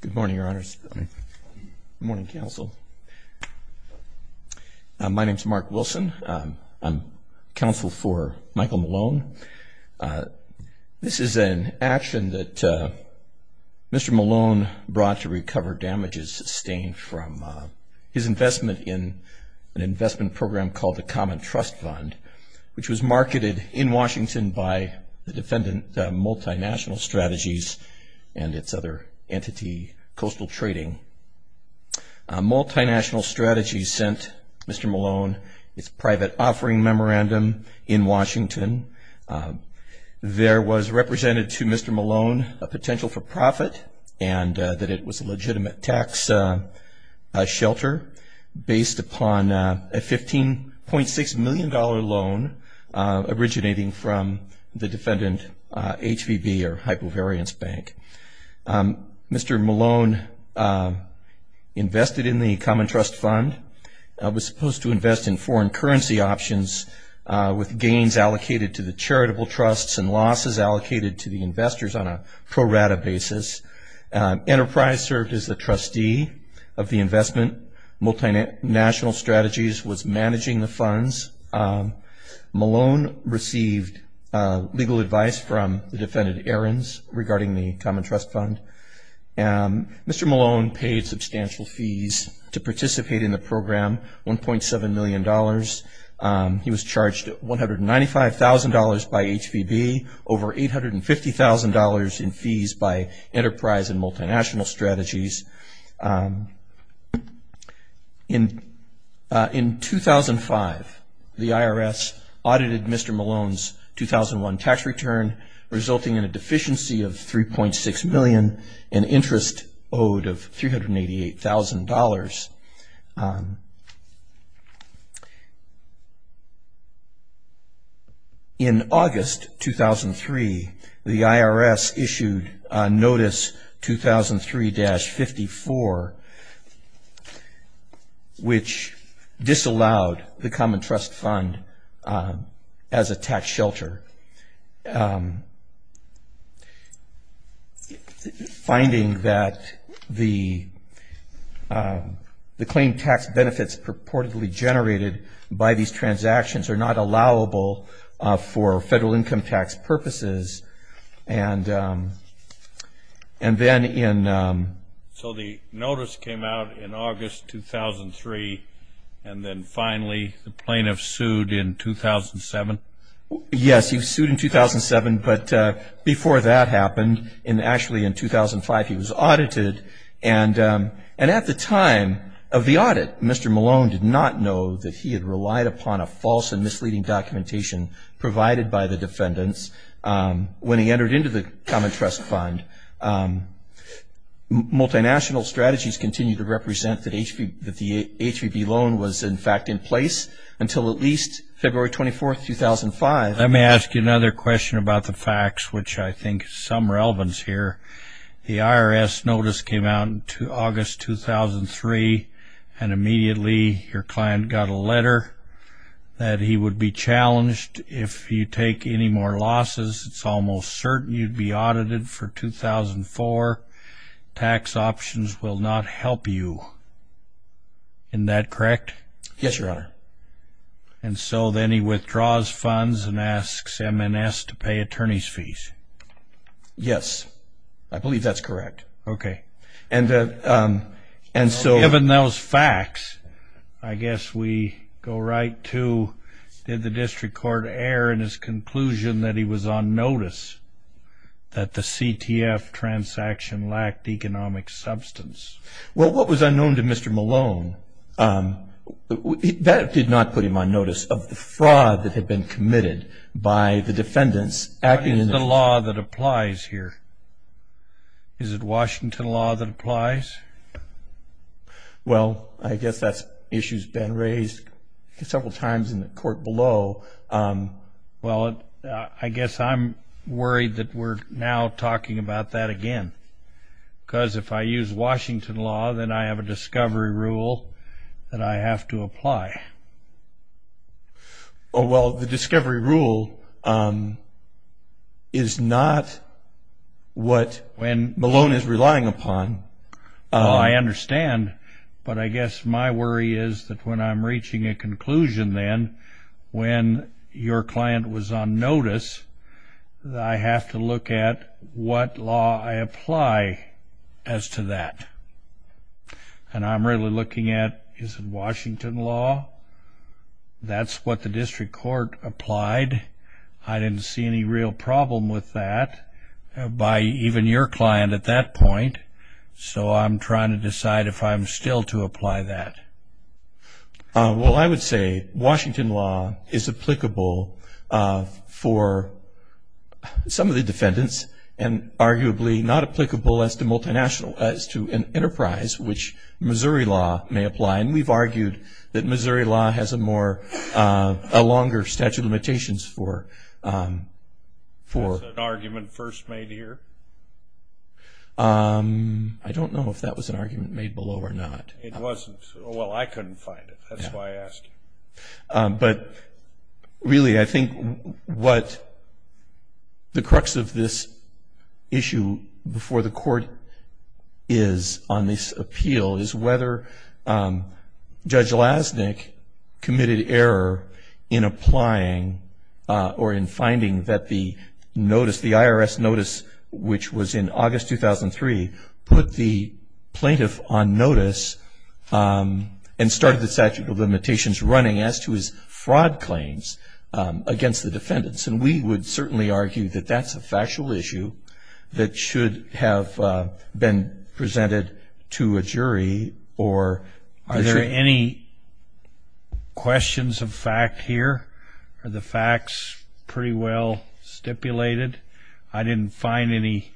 Good morning, Your Honors. Good morning, Counsel. My name is Mark Wilson. I'm counsel for Michael Malone. This is an action that Mr. Malone brought to recover damages sustained from his investment in an investment program called the Common Trust Fund, which was marketed in Washington by the defendant, Multinational Strategies, and its other entities. Multinational Strategies sent Mr. Malone its private offering memorandum in Washington. There was represented to Mr. Malone a potential for profit and that it was a legitimate tax shelter based upon a $15.6 million loan originating from the defendant, HVB, or Hypovariance Bank. Mr. Malone invested in the Common Trust Fund, was supposed to invest in foreign currency options with gains allocated to the charitable trusts and losses allocated to the investors on a pro rata basis. Enterprise served as the trustee of the investment. Multinational Strategies was managing the funds. Malone received legal advice from the defendant, Ahrens, regarding the Common Trust Fund. Mr. Malone paid substantial fees to participate in the program, $1.7 million. He was charged $195,000 by HVB, over $850,000 in fees by Enterprise and Multinational Strategies. In 2005, the IRS audited Mr. Malone's 2001 tax return, resulting in a deficiency of $3.6 million, an interest owed of $388,000. In August 2003, the IRS issued Notice 2003-54, which disallowed the Common Trust Fund as a tax shelter. In August 2003, the IRS issued Notice 2003-54, which disallowed the Common Trust Fund as a tax shelter. Yes, he was sued in 2007, but before that happened, and actually in 2005, he was audited. And at the time of the audit, Mr. Malone did not know that he had relied upon a false and misleading documentation provided by the defendants when he entered into the Common Trust Fund. Multinational Strategies continued to represent that the HVB loan was, in fact, in place until at least February 24, 2005. Let me ask you another question about the facts, which I think is of some relevance here. The IRS notice came out in August 2003, and immediately your client got a letter that he would be challenged if you take any more losses. It's almost certain you'd be audited for 2004. Tax options will not help you. Isn't that correct? Yes, Your Honor. And so then he withdraws funds and asks M&S to pay attorney's fees. Yes, I believe that's correct. Okay. Given those facts, I guess we go right to, did the district court err in his conclusion that he was on notice that the CTF transaction lacked economic substance? Well, what was unknown to Mr. Malone, that did not put him on notice of the fraud that had been committed by the defendants acting in the What is the law that applies here? Is it Washington law that applies? Well, I guess that issue's been raised several times in the court below. Well, I guess I'm worried that we're now talking about that again. Because if I use Washington law, then I have a discovery rule that I have to apply. Well, the discovery rule is not what Malone is relying upon. Oh, I understand. But I guess my worry is that when I'm reaching a conclusion then, when your client was on notice, I have to look at what law I apply as to that. And I'm really looking at, is it Washington law? That's what the district court applied. I didn't see any real problem with that by even your client at that point. So I'm trying to decide if I'm still to apply that. Well, I would say Washington law is applicable for some of the defendants and arguably not applicable as to an enterprise which Missouri law may apply. And we've argued that Missouri law has a longer statute of limitations for Was that an argument first made here? I don't know if that was an argument made below or not. It wasn't. Well, I couldn't find it. That's why I asked you. But really, I think what the crux of this issue before the court is on this appeal is whether Judge Lasnik committed error in applying or in finding that the notice, the IRS notice, which was in August 2003, put the plaintiff on notice and started the statute of limitations running as to his fraud claims against the defendants. And we would certainly argue that that's a factual issue that should have been presented to a jury or Are there any questions of fact here? Are the facts pretty well stipulated? I didn't find any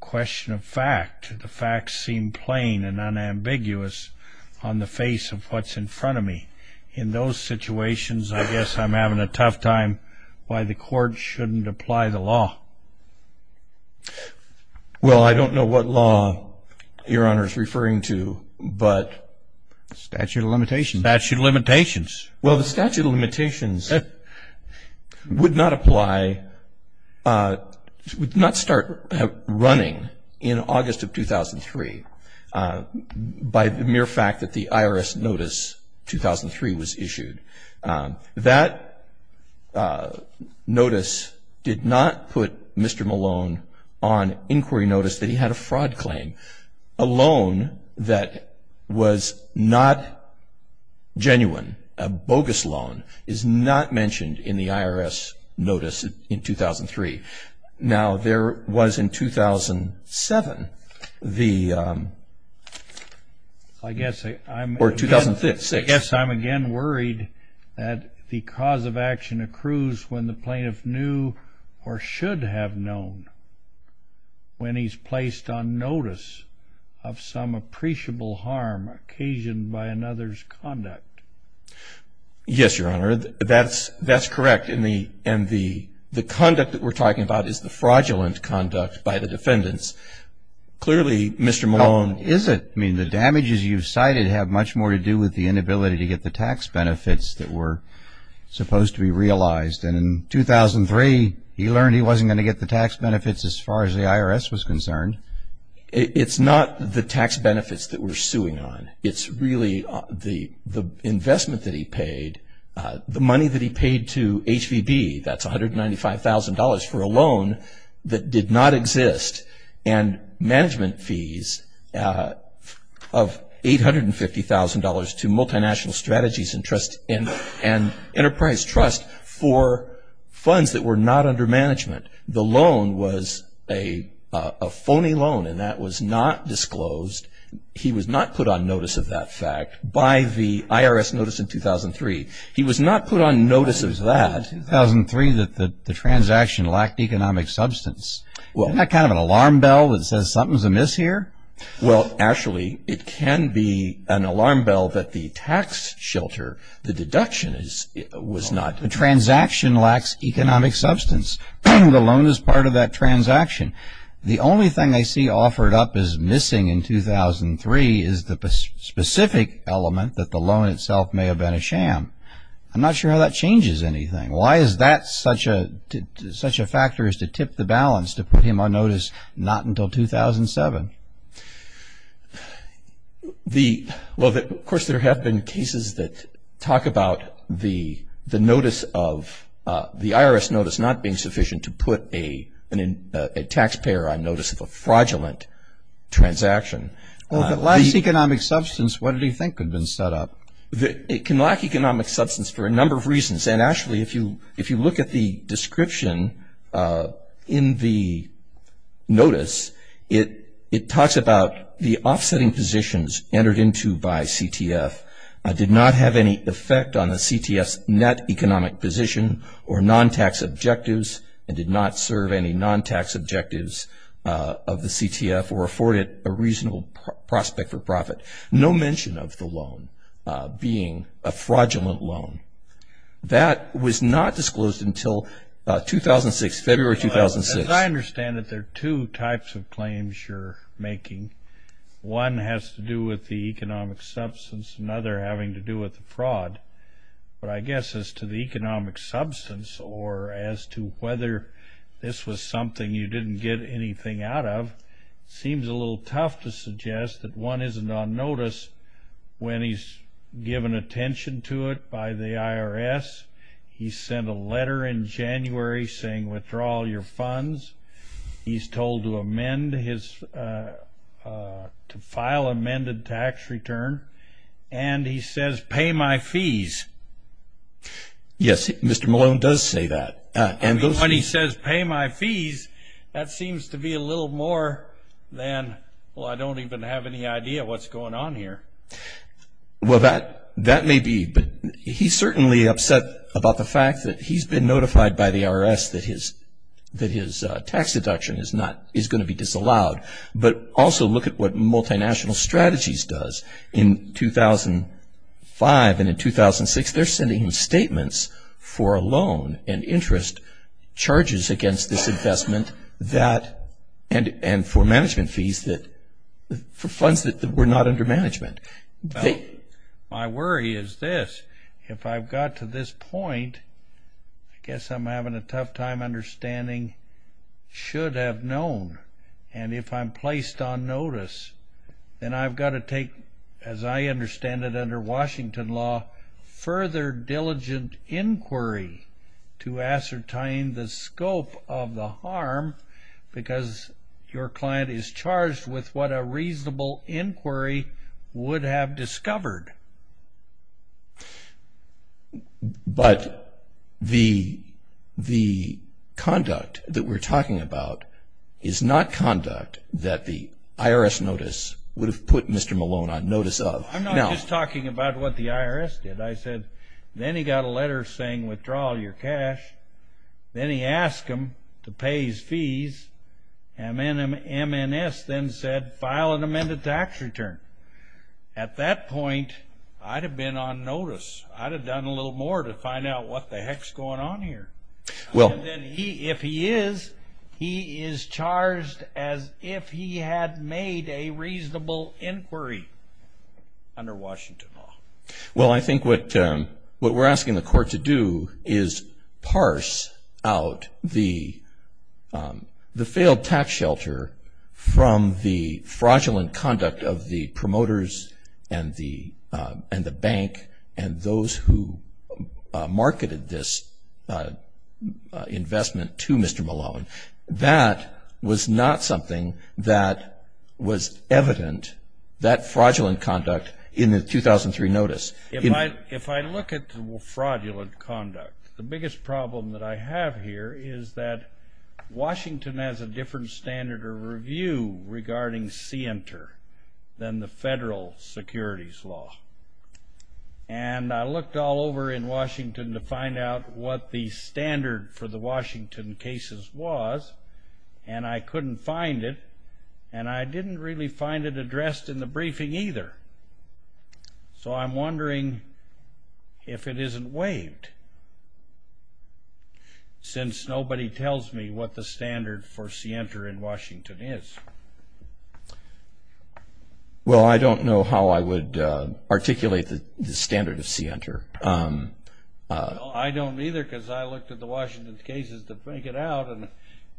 question of fact. The facts seem plain and unambiguous on the face of what's in front of me. In those situations, I guess I'm having a tough time why the court shouldn't apply the law. Well, I don't know what law Your Honor is referring to, but statute of limitations. Statute of limitations. Well, the statute of limitations would not apply, would not start running in August of 2003 by the mere fact that the IRS notice 2003 was issued. That notice did not put Mr. Malone on inquiry notice that he had a fraud claim. A loan that was not genuine, a bogus loan, is not mentioned in the IRS notice in 2003. Now, there was in 2007, or 2006. I guess I'm again worried that the cause of action accrues when the plaintiff knew or should have known when he's placed on notice of some appreciable harm occasioned by another's conduct. Yes, Your Honor. That's correct. And the conduct that we're talking about is the fraudulent conduct by the defendants. Clearly, Mr. Malone Is it? I mean, the damages you've cited have much more to do with the inability to get the tax benefits that were supposed to be realized. And in 2003, he learned he wasn't going to get the tax benefits as far as the IRS was concerned. It's not the tax benefits that we're suing on. It's really the investment that he paid, the money that he paid to HVB, that's $195,000 for a loan that did not exist, and management fees of $850,000 to multinational strategies and enterprise trust for funds that were not under management. The loan was a phony loan, and that was not disclosed. He was not put on notice of that fact by the IRS notice in 2003. He was not put on notice of that. In 2003, the transaction lacked economic substance. Isn't that kind of an alarm bell that says something's amiss here? Well, actually, it can be an alarm bell that the tax shelter, the deduction was not The transaction lacks economic substance. The loan is part of that transaction. The only thing I see offered up as missing in 2003 is the specific element that the loan itself may have been a sham. I'm not sure how that changes anything. Why is that such a factor as to tip the balance to put him on notice not until 2007? Well, of course, there have been cases that talk about the notice of the IRS notice not being sufficient to put a taxpayer on notice of a fraudulent transaction. Well, if it lacks economic substance, what do you think could have been set up? It can lack economic substance for a number of reasons. And actually, if you look at the description in the notice, it talks about the offsetting positions entered into by CTF did not have any effect on the CTF's net economic position or non-tax objectives and did not serve any non-tax objectives of the CTF or afford it a reasonable prospect for profit. No mention of the loan being a fraudulent loan. That was not disclosed until 2006, February 2006. Well, as I understand it, there are two types of claims you're making. One has to do with the economic substance, another having to do with the fraud. But I guess as to the economic substance or as to whether this was something you didn't get anything out of, it seems a little tough to suggest that one isn't on notice when he's given attention to it by the IRS. He sent a letter in January saying, withdraw all your funds. He's told to amend his to file amended tax return. And he says, pay my fees. Yes, Mr. Malone does say that. When he says, pay my fees, that seems to be a little more than, well, I don't even have any idea what's going on here. Well, that may be. But he's certainly upset about the fact that he's been notified by the IRS that his tax deduction is going to be disallowed. But also look at what Multinational Strategies does. In 2005 and in 2006, they're sending statements for a loan and interest charges against this investment and for management fees for funds that were not under management. My worry is this. If I've got to this point, I guess I'm having a tough time understanding, should have known. And if I'm placed on notice, then I've got to take, as I understand it under Washington law, further diligent inquiry to ascertain the scope of the harm because your client is charged with what a reasonable inquiry would have discovered. But the conduct that we're talking about is not conduct that the IRS notice would have put Mr. Malone on notice of. I'm not just talking about what the IRS did. I said then he got a letter saying withdraw your cash. Then he asked them to pay his fees. MNS then said file an amended tax return. At that point, I'd have been on notice. I'd have done a little more to find out what the heck's going on here. And then if he is, he is charged as if he had made a reasonable inquiry under Washington law. Well, I think what we're asking the court to do is parse out the failed tax shelter from the fraudulent conduct of the promoters and the bank and those who marketed this investment to Mr. Malone. That was not something that was evident, that fraudulent conduct in the 2003 notice. If I look at the fraudulent conduct, the biggest problem that I have here is that Washington has a different standard of review regarding CENTER than the federal securities law. And I looked all over in Washington to find out what the standard for the Washington cases was, and I couldn't find it, and I didn't really find it addressed in the briefing either. So I'm wondering if it isn't waived, since nobody tells me what the standard for CENTER in Washington is. Well, I don't know how I would articulate the standard of CENTER. I don't either, because I looked at the Washington cases to figure it out, and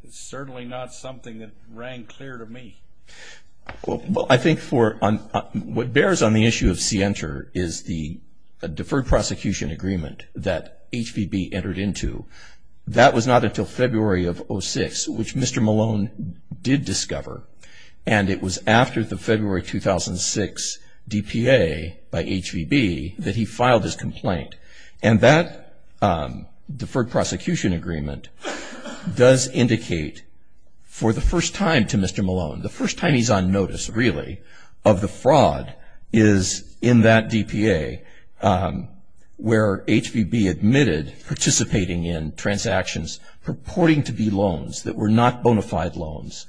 it's certainly not something that rang clear to me. Well, I think what bears on the issue of CENTER is the deferred prosecution agreement that HVB entered into. That was not until February of 2006, which Mr. Malone did discover, and it was after the February 2006 DPA by HVB that he filed his complaint. And that deferred prosecution agreement does indicate for the first time to Mr. Malone, the first time he's on notice, really, of the fraud is in that DPA, where HVB admitted participating in transactions purporting to be loans that were not bona fide loans,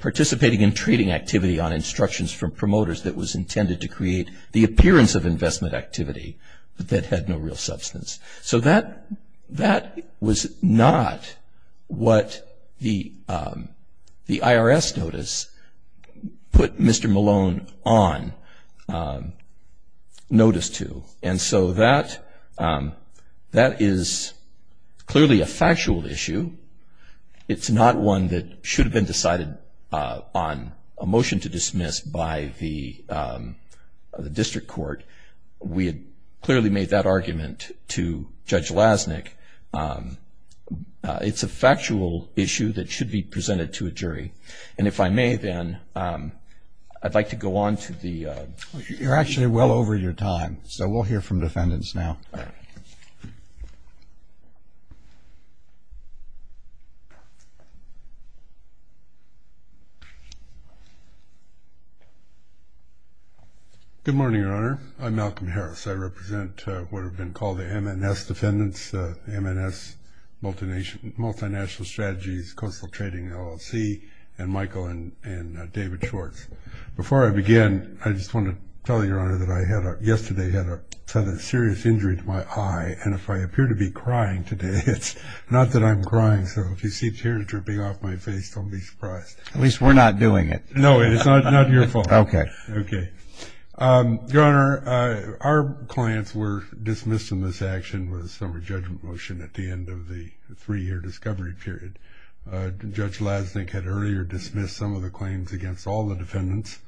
participating in trading activity on instructions from promoters that was intended to create the appearance of investment activity, but that had no real substance. So that was not what the IRS notice put Mr. Malone on notice to. And so that is clearly a factual issue. It's not one that should have been decided on a motion to dismiss by the district court. We had clearly made that argument to Judge Lasnik. It's a factual issue that should be presented to a jury. And if I may, then, I'd like to go on to the next panel. You're actually well over your time, so we'll hear from defendants now. All right. Good morning, Your Honor. I'm Malcolm Harris. I represent what have been called the MNS defendants, MNS Multinational Strategies, Coastal Trading LLC, and Michael and David Schwartz. Before I begin, I just want to tell Your Honor that yesterday I had a serious injury to my eye, and if I appear to be crying today, it's not that I'm crying. So if you see tears dripping off my face, don't be surprised. At least we're not doing it. No, it's not your fault. Okay. Okay. Your Honor, our clients were dismissed in this action with a summary judgment motion at the end of the three-year discovery period. Judge Lasnik had earlier dismissed some of the claims against all the defendants.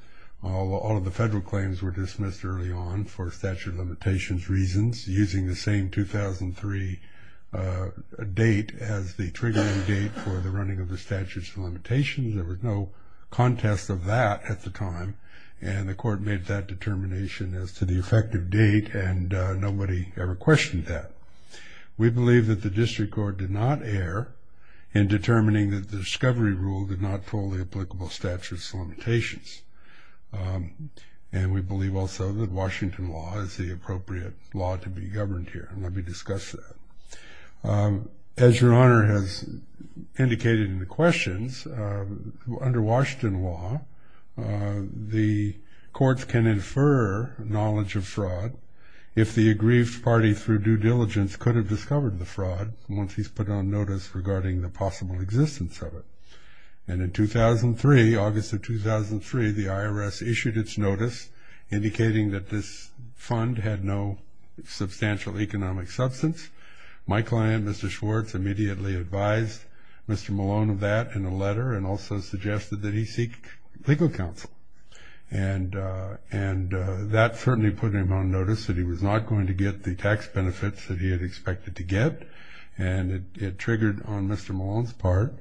All of the federal claims were dismissed early on for statute of limitations reasons, using the same 2003 date as the triggering date for the running of the statute of limitations. There was no contest of that at the time, and the court made that determination as to the effective date, and nobody ever questioned that. We believe that the district court did not err in determining that the discovery rule did not pull the applicable statute of limitations, and we believe also that Washington law is the appropriate law to be governed here, and let me discuss that. As Your Honor has indicated in the questions, under Washington law, the courts can infer knowledge of fraud if the aggrieved party through due diligence could have discovered the fraud once he's put it on notice regarding the possible existence of it. And in 2003, August of 2003, the IRS issued its notice indicating that this fund had no substantial economic substance. My client, Mr. Schwartz, immediately advised Mr. Malone of that in a letter and also suggested that he seek legal counsel. And that certainly put him on notice that he was not going to get the tax benefits that he had expected to get, and it triggered on Mr. Malone's part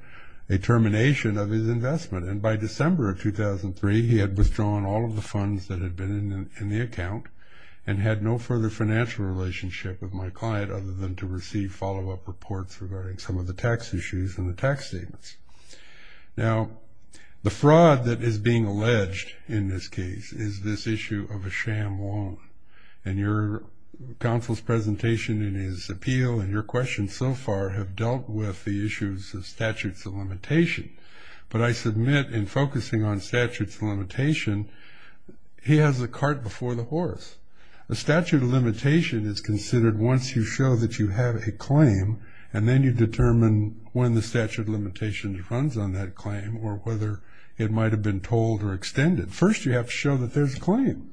a termination of his investment. And by December of 2003, he had withdrawn all of the funds that had been in the account and had no further financial relationship with my client other than to receive follow-up reports regarding some of the tax issues and the tax statements. Now, the fraud that is being alleged in this case is this issue of a sham loan. And your counsel's presentation and his appeal and your questions so far have dealt with the issues of statutes of limitation. But I submit in focusing on statutes of limitation, he has the cart before the horse. A statute of limitation is considered once you show that you have a claim and then you determine when the statute of limitation runs on that claim or whether it might have been told or extended. First, you have to show that there's a claim.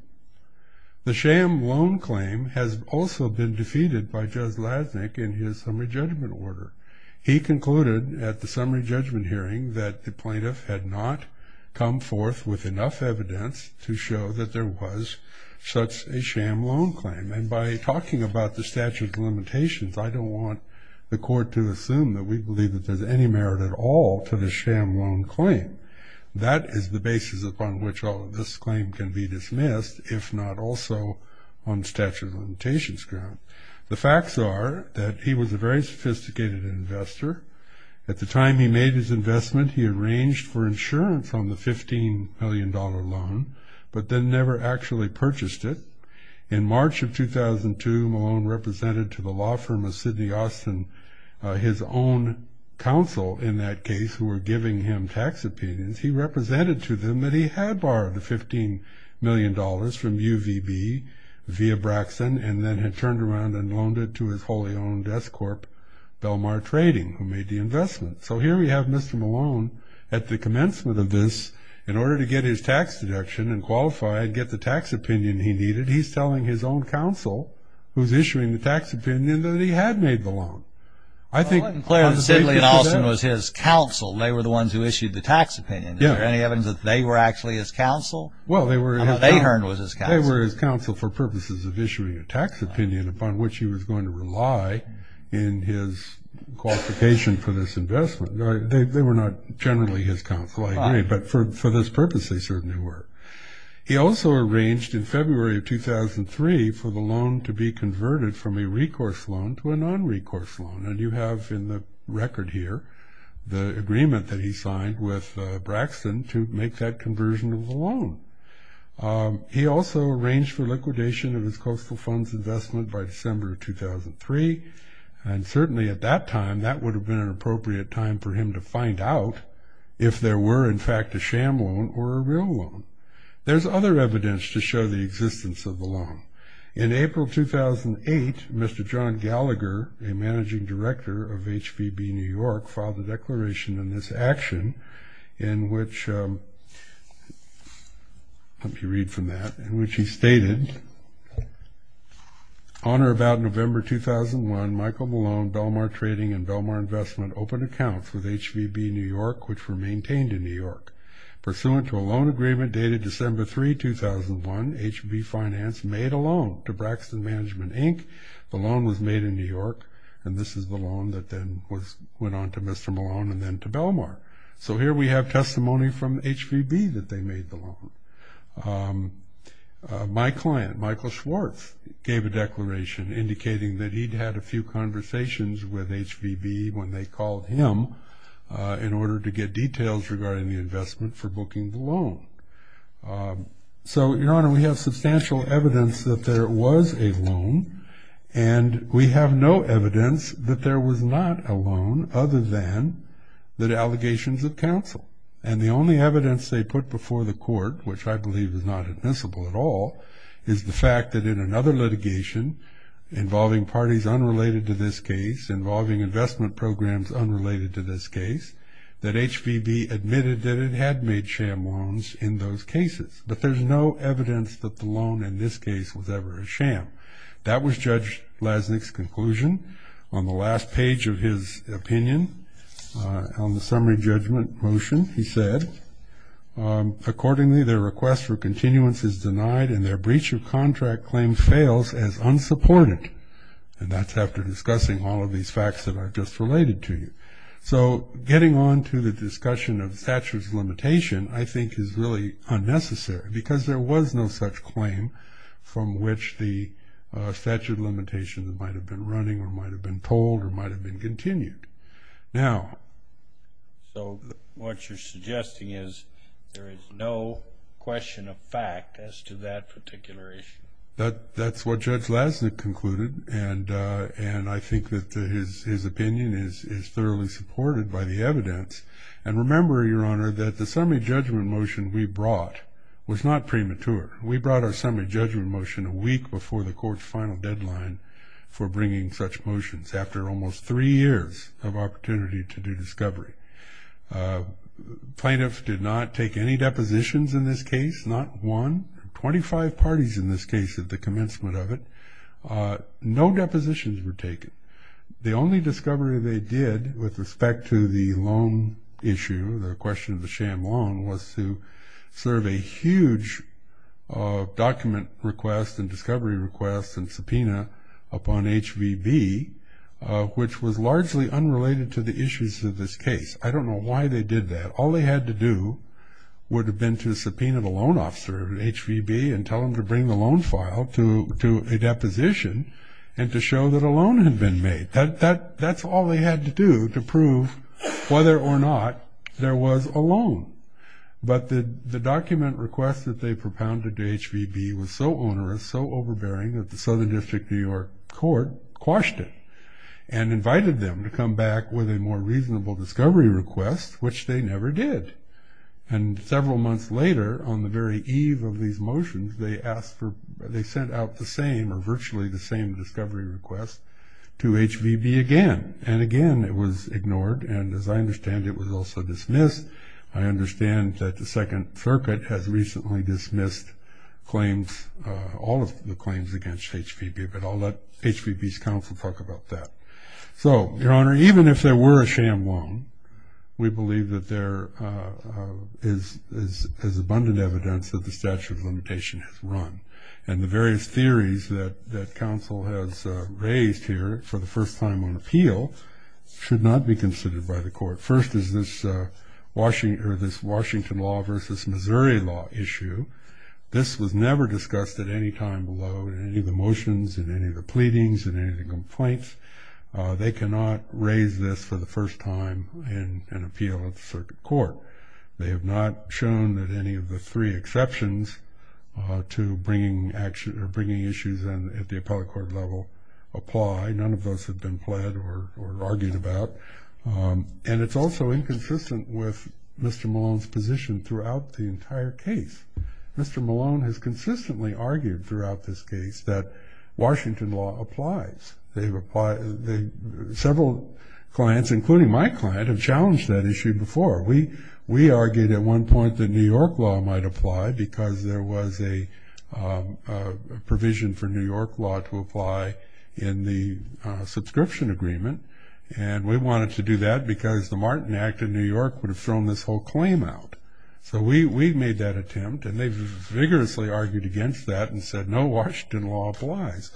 The sham loan claim has also been defeated by Judge Lasnik in his summary judgment order. He concluded at the summary judgment hearing that the plaintiff had not come forth with enough evidence to show that there was such a sham loan claim. And by talking about the statute of limitations, I don't want the court to assume that we believe that there's any merit at all to the sham loan claim. That is the basis upon which all of this claim can be dismissed, if not also on statute of limitations ground. The facts are that he was a very sophisticated investor. At the time he made his investment, he arranged for insurance on the $15 million loan, but then never actually purchased it. In March of 2002, Malone represented to the law firm of Sydney Austin his own counsel in that case who were giving him tax opinions. He represented to them that he had borrowed the $15 million from UVB via Braxton and then had turned around and loaned it to his wholly owned S Corp. Belmar Trading, who made the investment. So here we have Mr. Malone at the commencement of this, in order to get his tax deduction and qualify and get the tax opinion he needed, he's telling his own counsel, who's issuing the tax opinion, that he had made the loan. I think... Well, Clinton, Clarence, Sidley, and Austin was his counsel. They were the ones who issued the tax opinion. Is there any evidence that they were actually his counsel? Well, they were... How about Ahern was his counsel? They were his counsel for purposes of issuing a tax opinion upon which he was going to rely in his qualification for this investment. They were not generally his counsel, I agree, but for this purpose they certainly were. He also arranged in February of 2003 for the loan to be converted from a recourse loan to a non-recourse loan, and you have in the record here the agreement that he signed with Braxton to make that conversion of the loan. He also arranged for liquidation of his coastal funds investment by December of 2003, and certainly at that time that would have been an appropriate time for him to find out if there were, in fact, a sham loan or a real loan. There's other evidence to show the existence of the loan. In April 2008, Mr. John Gallagher, a managing director of HVB New York, filed a declaration in this action in which... I hope you read from that, in which he stated, On or about November 2001, Michael Malone, Belmar Trading and Belmar Investment, opened accounts with HVB New York, which were maintained in New York. Pursuant to a loan agreement dated December 3, 2001, HVB Finance made a loan to Braxton Management, Inc. The loan was made in New York, and this is the loan that then went on to Mr. Malone and then to Belmar. So here we have testimony from HVB that they made the loan. My client, Michael Schwartz, gave a declaration indicating that he'd had a few conversations with HVB when they called him in order to get details regarding the investment for booking the loan. So, Your Honor, we have substantial evidence that there was a loan, and we have no evidence that there was not a loan other than the allegations of counsel. And the only evidence they put before the court, which I believe is not admissible at all, is the fact that in another litigation involving parties unrelated to this case, involving investment programs unrelated to this case, that HVB admitted that it had made sham loans in those cases. But there's no evidence that the loan in this case was ever a sham. That was Judge Lasnik's conclusion. On the last page of his opinion, on the summary judgment motion, he said, accordingly, their request for continuance is denied, and their breach of contract claim fails as unsupported. And that's after discussing all of these facts that are just related to you. So getting on to the discussion of statutes of limitation, I think, is really unnecessary, because there was no such claim from which the statute of limitations might have been running or might have been told or might have been continued. Now. So what you're suggesting is there is no question of fact as to that particular issue. That's what Judge Lasnik concluded, and I think that his opinion is thoroughly supported by the evidence. And remember, Your Honor, that the summary judgment motion we brought was not premature. We brought our summary judgment motion a week before the court's final deadline for bringing such motions, after almost three years of opportunity to do discovery. Plaintiffs did not take any depositions in this case, not one. Twenty-five parties in this case at the commencement of it. No depositions were taken. The only discovery they did with respect to the loan issue, the question of the sham loan, was to serve a huge document request and discovery request and subpoena upon HVB, which was largely unrelated to the issues of this case. I don't know why they did that. All they had to do would have been to subpoena the loan officer at HVB and tell him to bring the loan file to a deposition and to show that a loan had been made. That's all they had to do to prove whether or not there was a loan. But the document request that they propounded to HVB was so onerous, so overbearing, that the Southern District of New York court quashed it and invited them to come back with a more reasonable discovery request, which they never did. And several months later, on the very eve of these motions, they sent out the same or virtually the same discovery request to HVB again. And again, it was ignored, and as I understand, it was also dismissed. I understand that the Second Circuit has recently dismissed all of the claims against HVB, but I'll let HVB's counsel talk about that. So, Your Honor, even if there were a sham loan, we believe that there is abundant evidence that the statute of limitation has run. And the various theories that counsel has raised here for the first time on appeal should not be considered by the court. First is this Washington law versus Missouri law issue. This was never discussed at any time below in any of the motions, in any of the pleadings, in any of the complaints. They cannot raise this for the first time in an appeal at the circuit court. They have not shown that any of the three exceptions to bringing issues at the appellate court level apply. None of those have been pled or argued about. And it's also inconsistent with Mr. Malone's position throughout the entire case. Mr. Malone has consistently argued throughout this case that Washington law applies. Several clients, including my client, have challenged that issue before. We argued at one point that New York law might apply because there was a provision for New York law to apply in the subscription agreement, and we wanted to do that because the Martin Act of New York would have thrown this whole claim out. So we made that attempt, and they vigorously argued against that and said, no, Washington law applies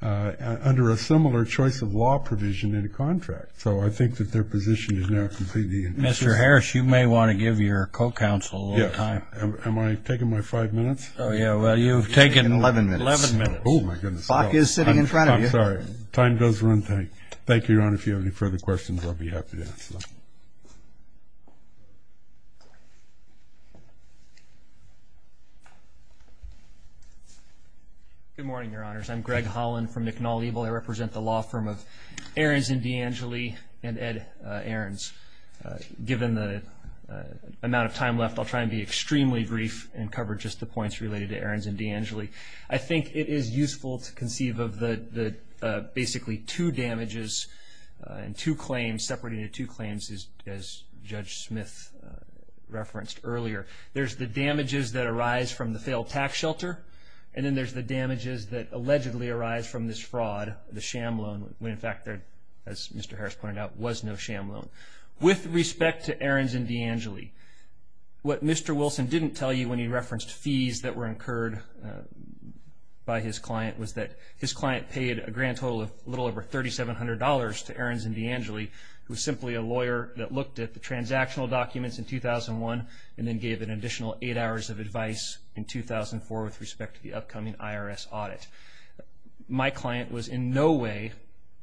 under a similar choice of law provision in a contract. So I think that their position is now completely inconsistent. Mr. Harris, you may want to give your co-counsel a little time. Yes. Am I taking my five minutes? Oh, yeah. Well, you've taken 11 minutes. 11 minutes. Oh, my goodness. The clock is sitting in front of you. I'm sorry. Time does run thin. Thank you, Your Honor. If you have any further questions, I'll be happy to answer them. Good morning, Your Honors. I'm Greg Holland from McNall-Eville. I represent the law firm of Ahrens & D'Angeli and Ed Ahrens. Given the amount of time left, I'll try and be extremely brief I think it is useful to conceive of basically two damages and two claims, separating the two claims as Judge Smith referenced earlier. There's the damages that arise from the failed tax shelter, and then there's the damages that allegedly arise from this fraud, the sham loan, when, in fact, as Mr. Harris pointed out, there was no sham loan. With respect to Ahrens & D'Angeli, what Mr. Wilson didn't tell you when he referenced fees that were incurred by his client was that his client paid a grand total of a little over $3,700 to Ahrens & D'Angeli, who was simply a lawyer that looked at the transactional documents in 2001 and then gave an additional eight hours of advice in 2004 with respect to the upcoming IRS audit. My client was in no way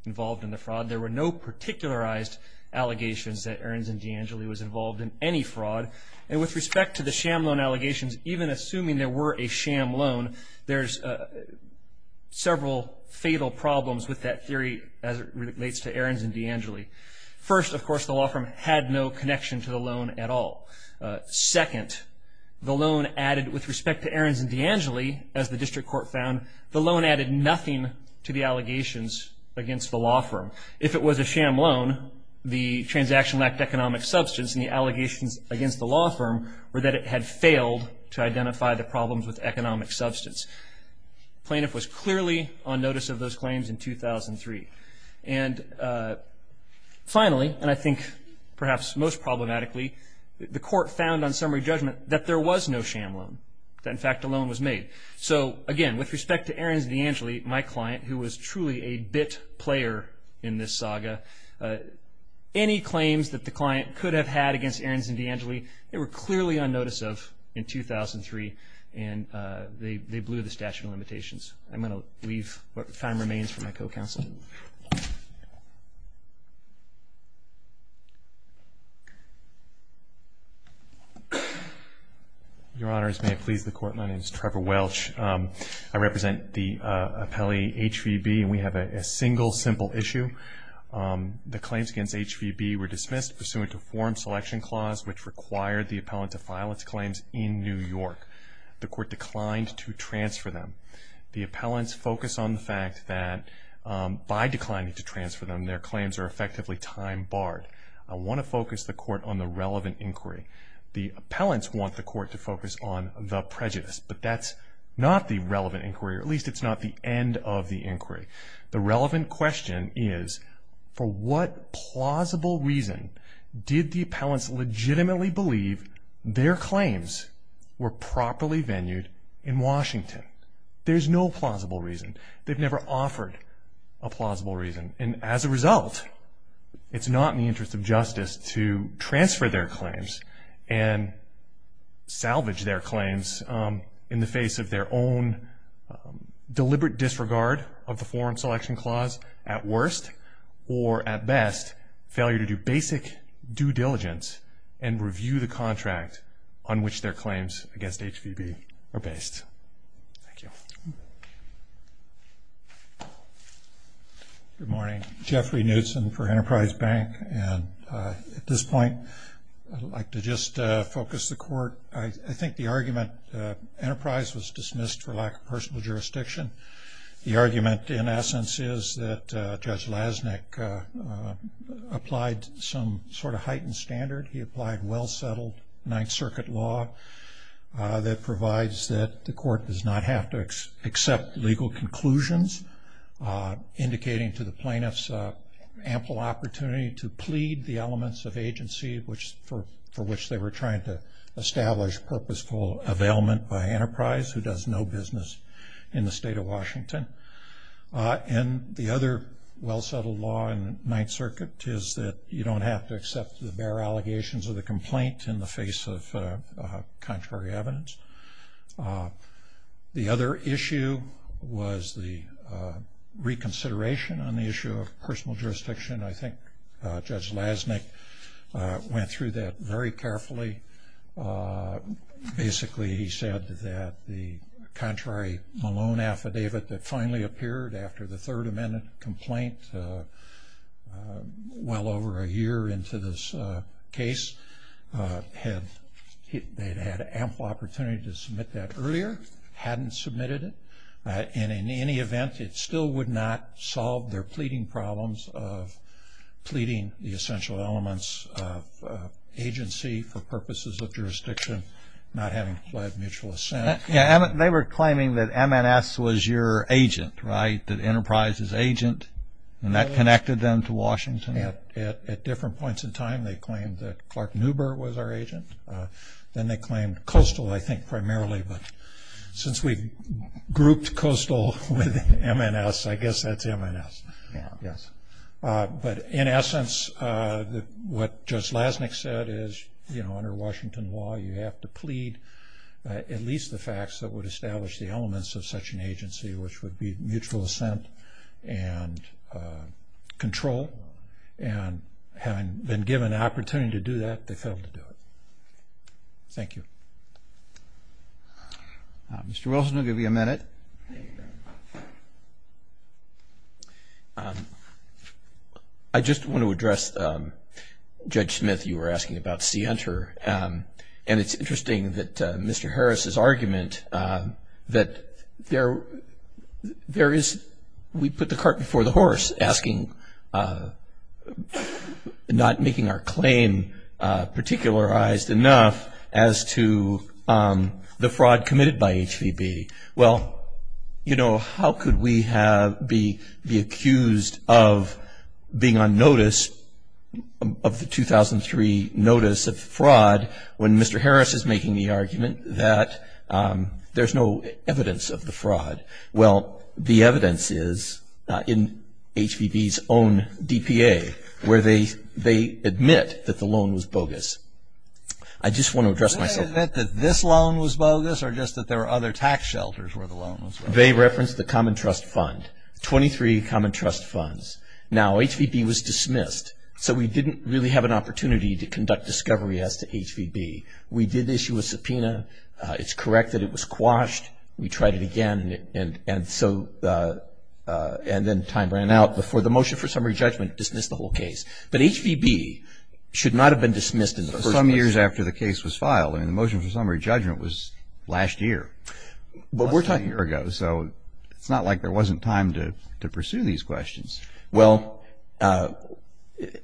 involved in the fraud. There were no particularized allegations that Ahrens & D'Angeli was involved in any fraud. And with respect to the sham loan allegations, even assuming there were a sham loan, there's several fatal problems with that theory as it relates to Ahrens & D'Angeli. First, of course, the law firm had no connection to the loan at all. Second, the loan added, with respect to Ahrens & D'Angeli, as the district court found, the loan added nothing to the allegations against the law firm. If it was a sham loan, the transaction lacked economic substance, and the allegations against the law firm were that it had failed to identify the problems with economic substance. The plaintiff was clearly on notice of those claims in 2003. And finally, and I think perhaps most problematically, the court found on summary judgment that there was no sham loan, that in fact a loan was made. So again, with respect to Ahrens & D'Angeli, my client, who was truly a bit player in this saga, any claims that the client could have had against Ahrens & D'Angeli, they were clearly on notice of in 2003, and they blew the statute of limitations. I'm going to leave what time remains for my co-counsel. Your Honors, may it please the Court, my name is Trevor Welch. I represent the appellee HVB, and we have a single, simple issue. The claims against HVB were dismissed pursuant to a form selection clause, which required the appellant to file its claims in New York. The court declined to transfer them. The appellant's focus on the fact that, by declining to transfer them, their claims are effectively time barred. I want to focus the court on the relevant inquiry. The appellants want the court to focus on the prejudice, but that's not the relevant inquiry, or at least it's not the end of the inquiry. The relevant question is, for what plausible reason did the appellants legitimately believe their claims were properly venued in Washington? There's no plausible reason. They've never offered a plausible reason, and as a result, it's not in the interest of justice to transfer their claims and salvage their claims in the face of their own deliberate disregard of the form selection clause at worst, or at best, failure to do basic due diligence and review the contract on which their claims against HVB are based. Thank you. Good morning. Jeffrey Knutson for Enterprise Bank, and at this point, I'd like to just focus the court. I think the argument, Enterprise was dismissed for lack of personal jurisdiction. The argument, in essence, is that Judge Lasnik applied some sort of heightened standard. He applied well-settled Ninth Circuit law that provides that the court does not have to accept legal conclusions, indicating to the plaintiffs ample opportunity to plead the elements of agency for which they were trying to establish purposeful availment by Enterprise, who does no business in the state of Washington. And the other well-settled law in Ninth Circuit is that you don't have to accept the bare allegations of the complaint in the face of contrary evidence. The other issue was the reconsideration on the issue of personal jurisdiction. I think Judge Lasnik went through that very carefully. Basically, he said that the contrary Malone affidavit that finally appeared after the Third Amendment complaint well over a year into this case, they'd had ample opportunity to submit that earlier, hadn't submitted it, and in any event, it still would not solve their pleading problems of pleading the essential elements of agency for purposes of jurisdiction, not having pled mutual assent. They were claiming that MNS was your agent, right, that Enterprise's agent, and that connected them to Washington at different points in time. They claimed that Clark Neuber was our agent. Then they claimed Coastal, I think, primarily. But since we grouped Coastal with MNS, I guess that's MNS. But in essence, what Judge Lasnik said is, you know, under Washington law, you have to plead at least the facts that would establish the elements of such an agency, which would be mutual assent and control. And having been given the opportunity to do that, they failed to do it. Thank you. Mr. Wilson, I'll give you a minute. Thank you. I just want to address Judge Smith. You were asking about Sienter. And it's interesting that Mr. Harris's argument that there is we put the cart before the horse, asking not making our claim particularized enough as to the fraud committed by HVB. Well, you know, how could we be accused of being on notice of the 2003 notice of fraud when Mr. Harris is making the argument that there's no evidence of the fraud? Well, the evidence is in HVB's own DPA, where they admit that the loan was bogus. I just want to address myself. Did they admit that this loan was bogus or just that there were other tax shelters where the loan was bogus? They referenced the Common Trust Fund, 23 Common Trust Funds. Now, HVB was dismissed, so we didn't really have an opportunity to conduct discovery as to HVB. We did issue a subpoena. It's correct that it was quashed. We tried it again, and then time ran out before the motion for summary judgment dismissed the whole case. But HVB should not have been dismissed in the first place. Some years after the case was filed. I mean, the motion for summary judgment was last year, less than a year ago. So it's not like there wasn't time to pursue these questions. Well,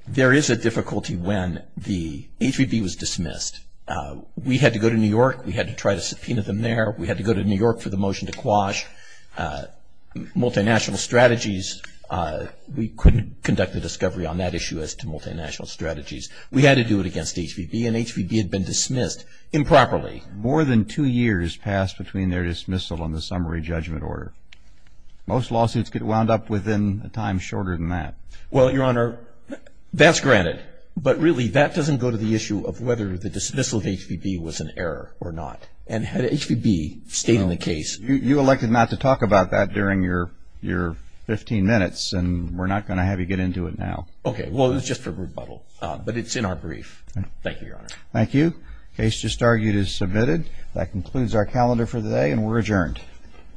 there is a difficulty when the HVB was dismissed. We had to go to New York. We had to try to subpoena them there. We had to go to New York for the motion to quash. Multinational strategies, we couldn't conduct a discovery on that issue as to multinational strategies. We had to do it against HVB, and HVB had been dismissed improperly. More than two years passed between their dismissal and the summary judgment order. Most lawsuits get wound up within a time shorter than that. Well, Your Honor, that's granted. But really, that doesn't go to the issue of whether the dismissal of HVB was an error or not. And had HVB stayed in the case. You elected not to talk about that during your 15 minutes, and we're not going to have you get into it now. Okay, well, it was just for rebuttal. But it's in our brief. Thank you, Your Honor. Thank you. Case just argued is submitted. That concludes our calendar for today, and we're adjourned.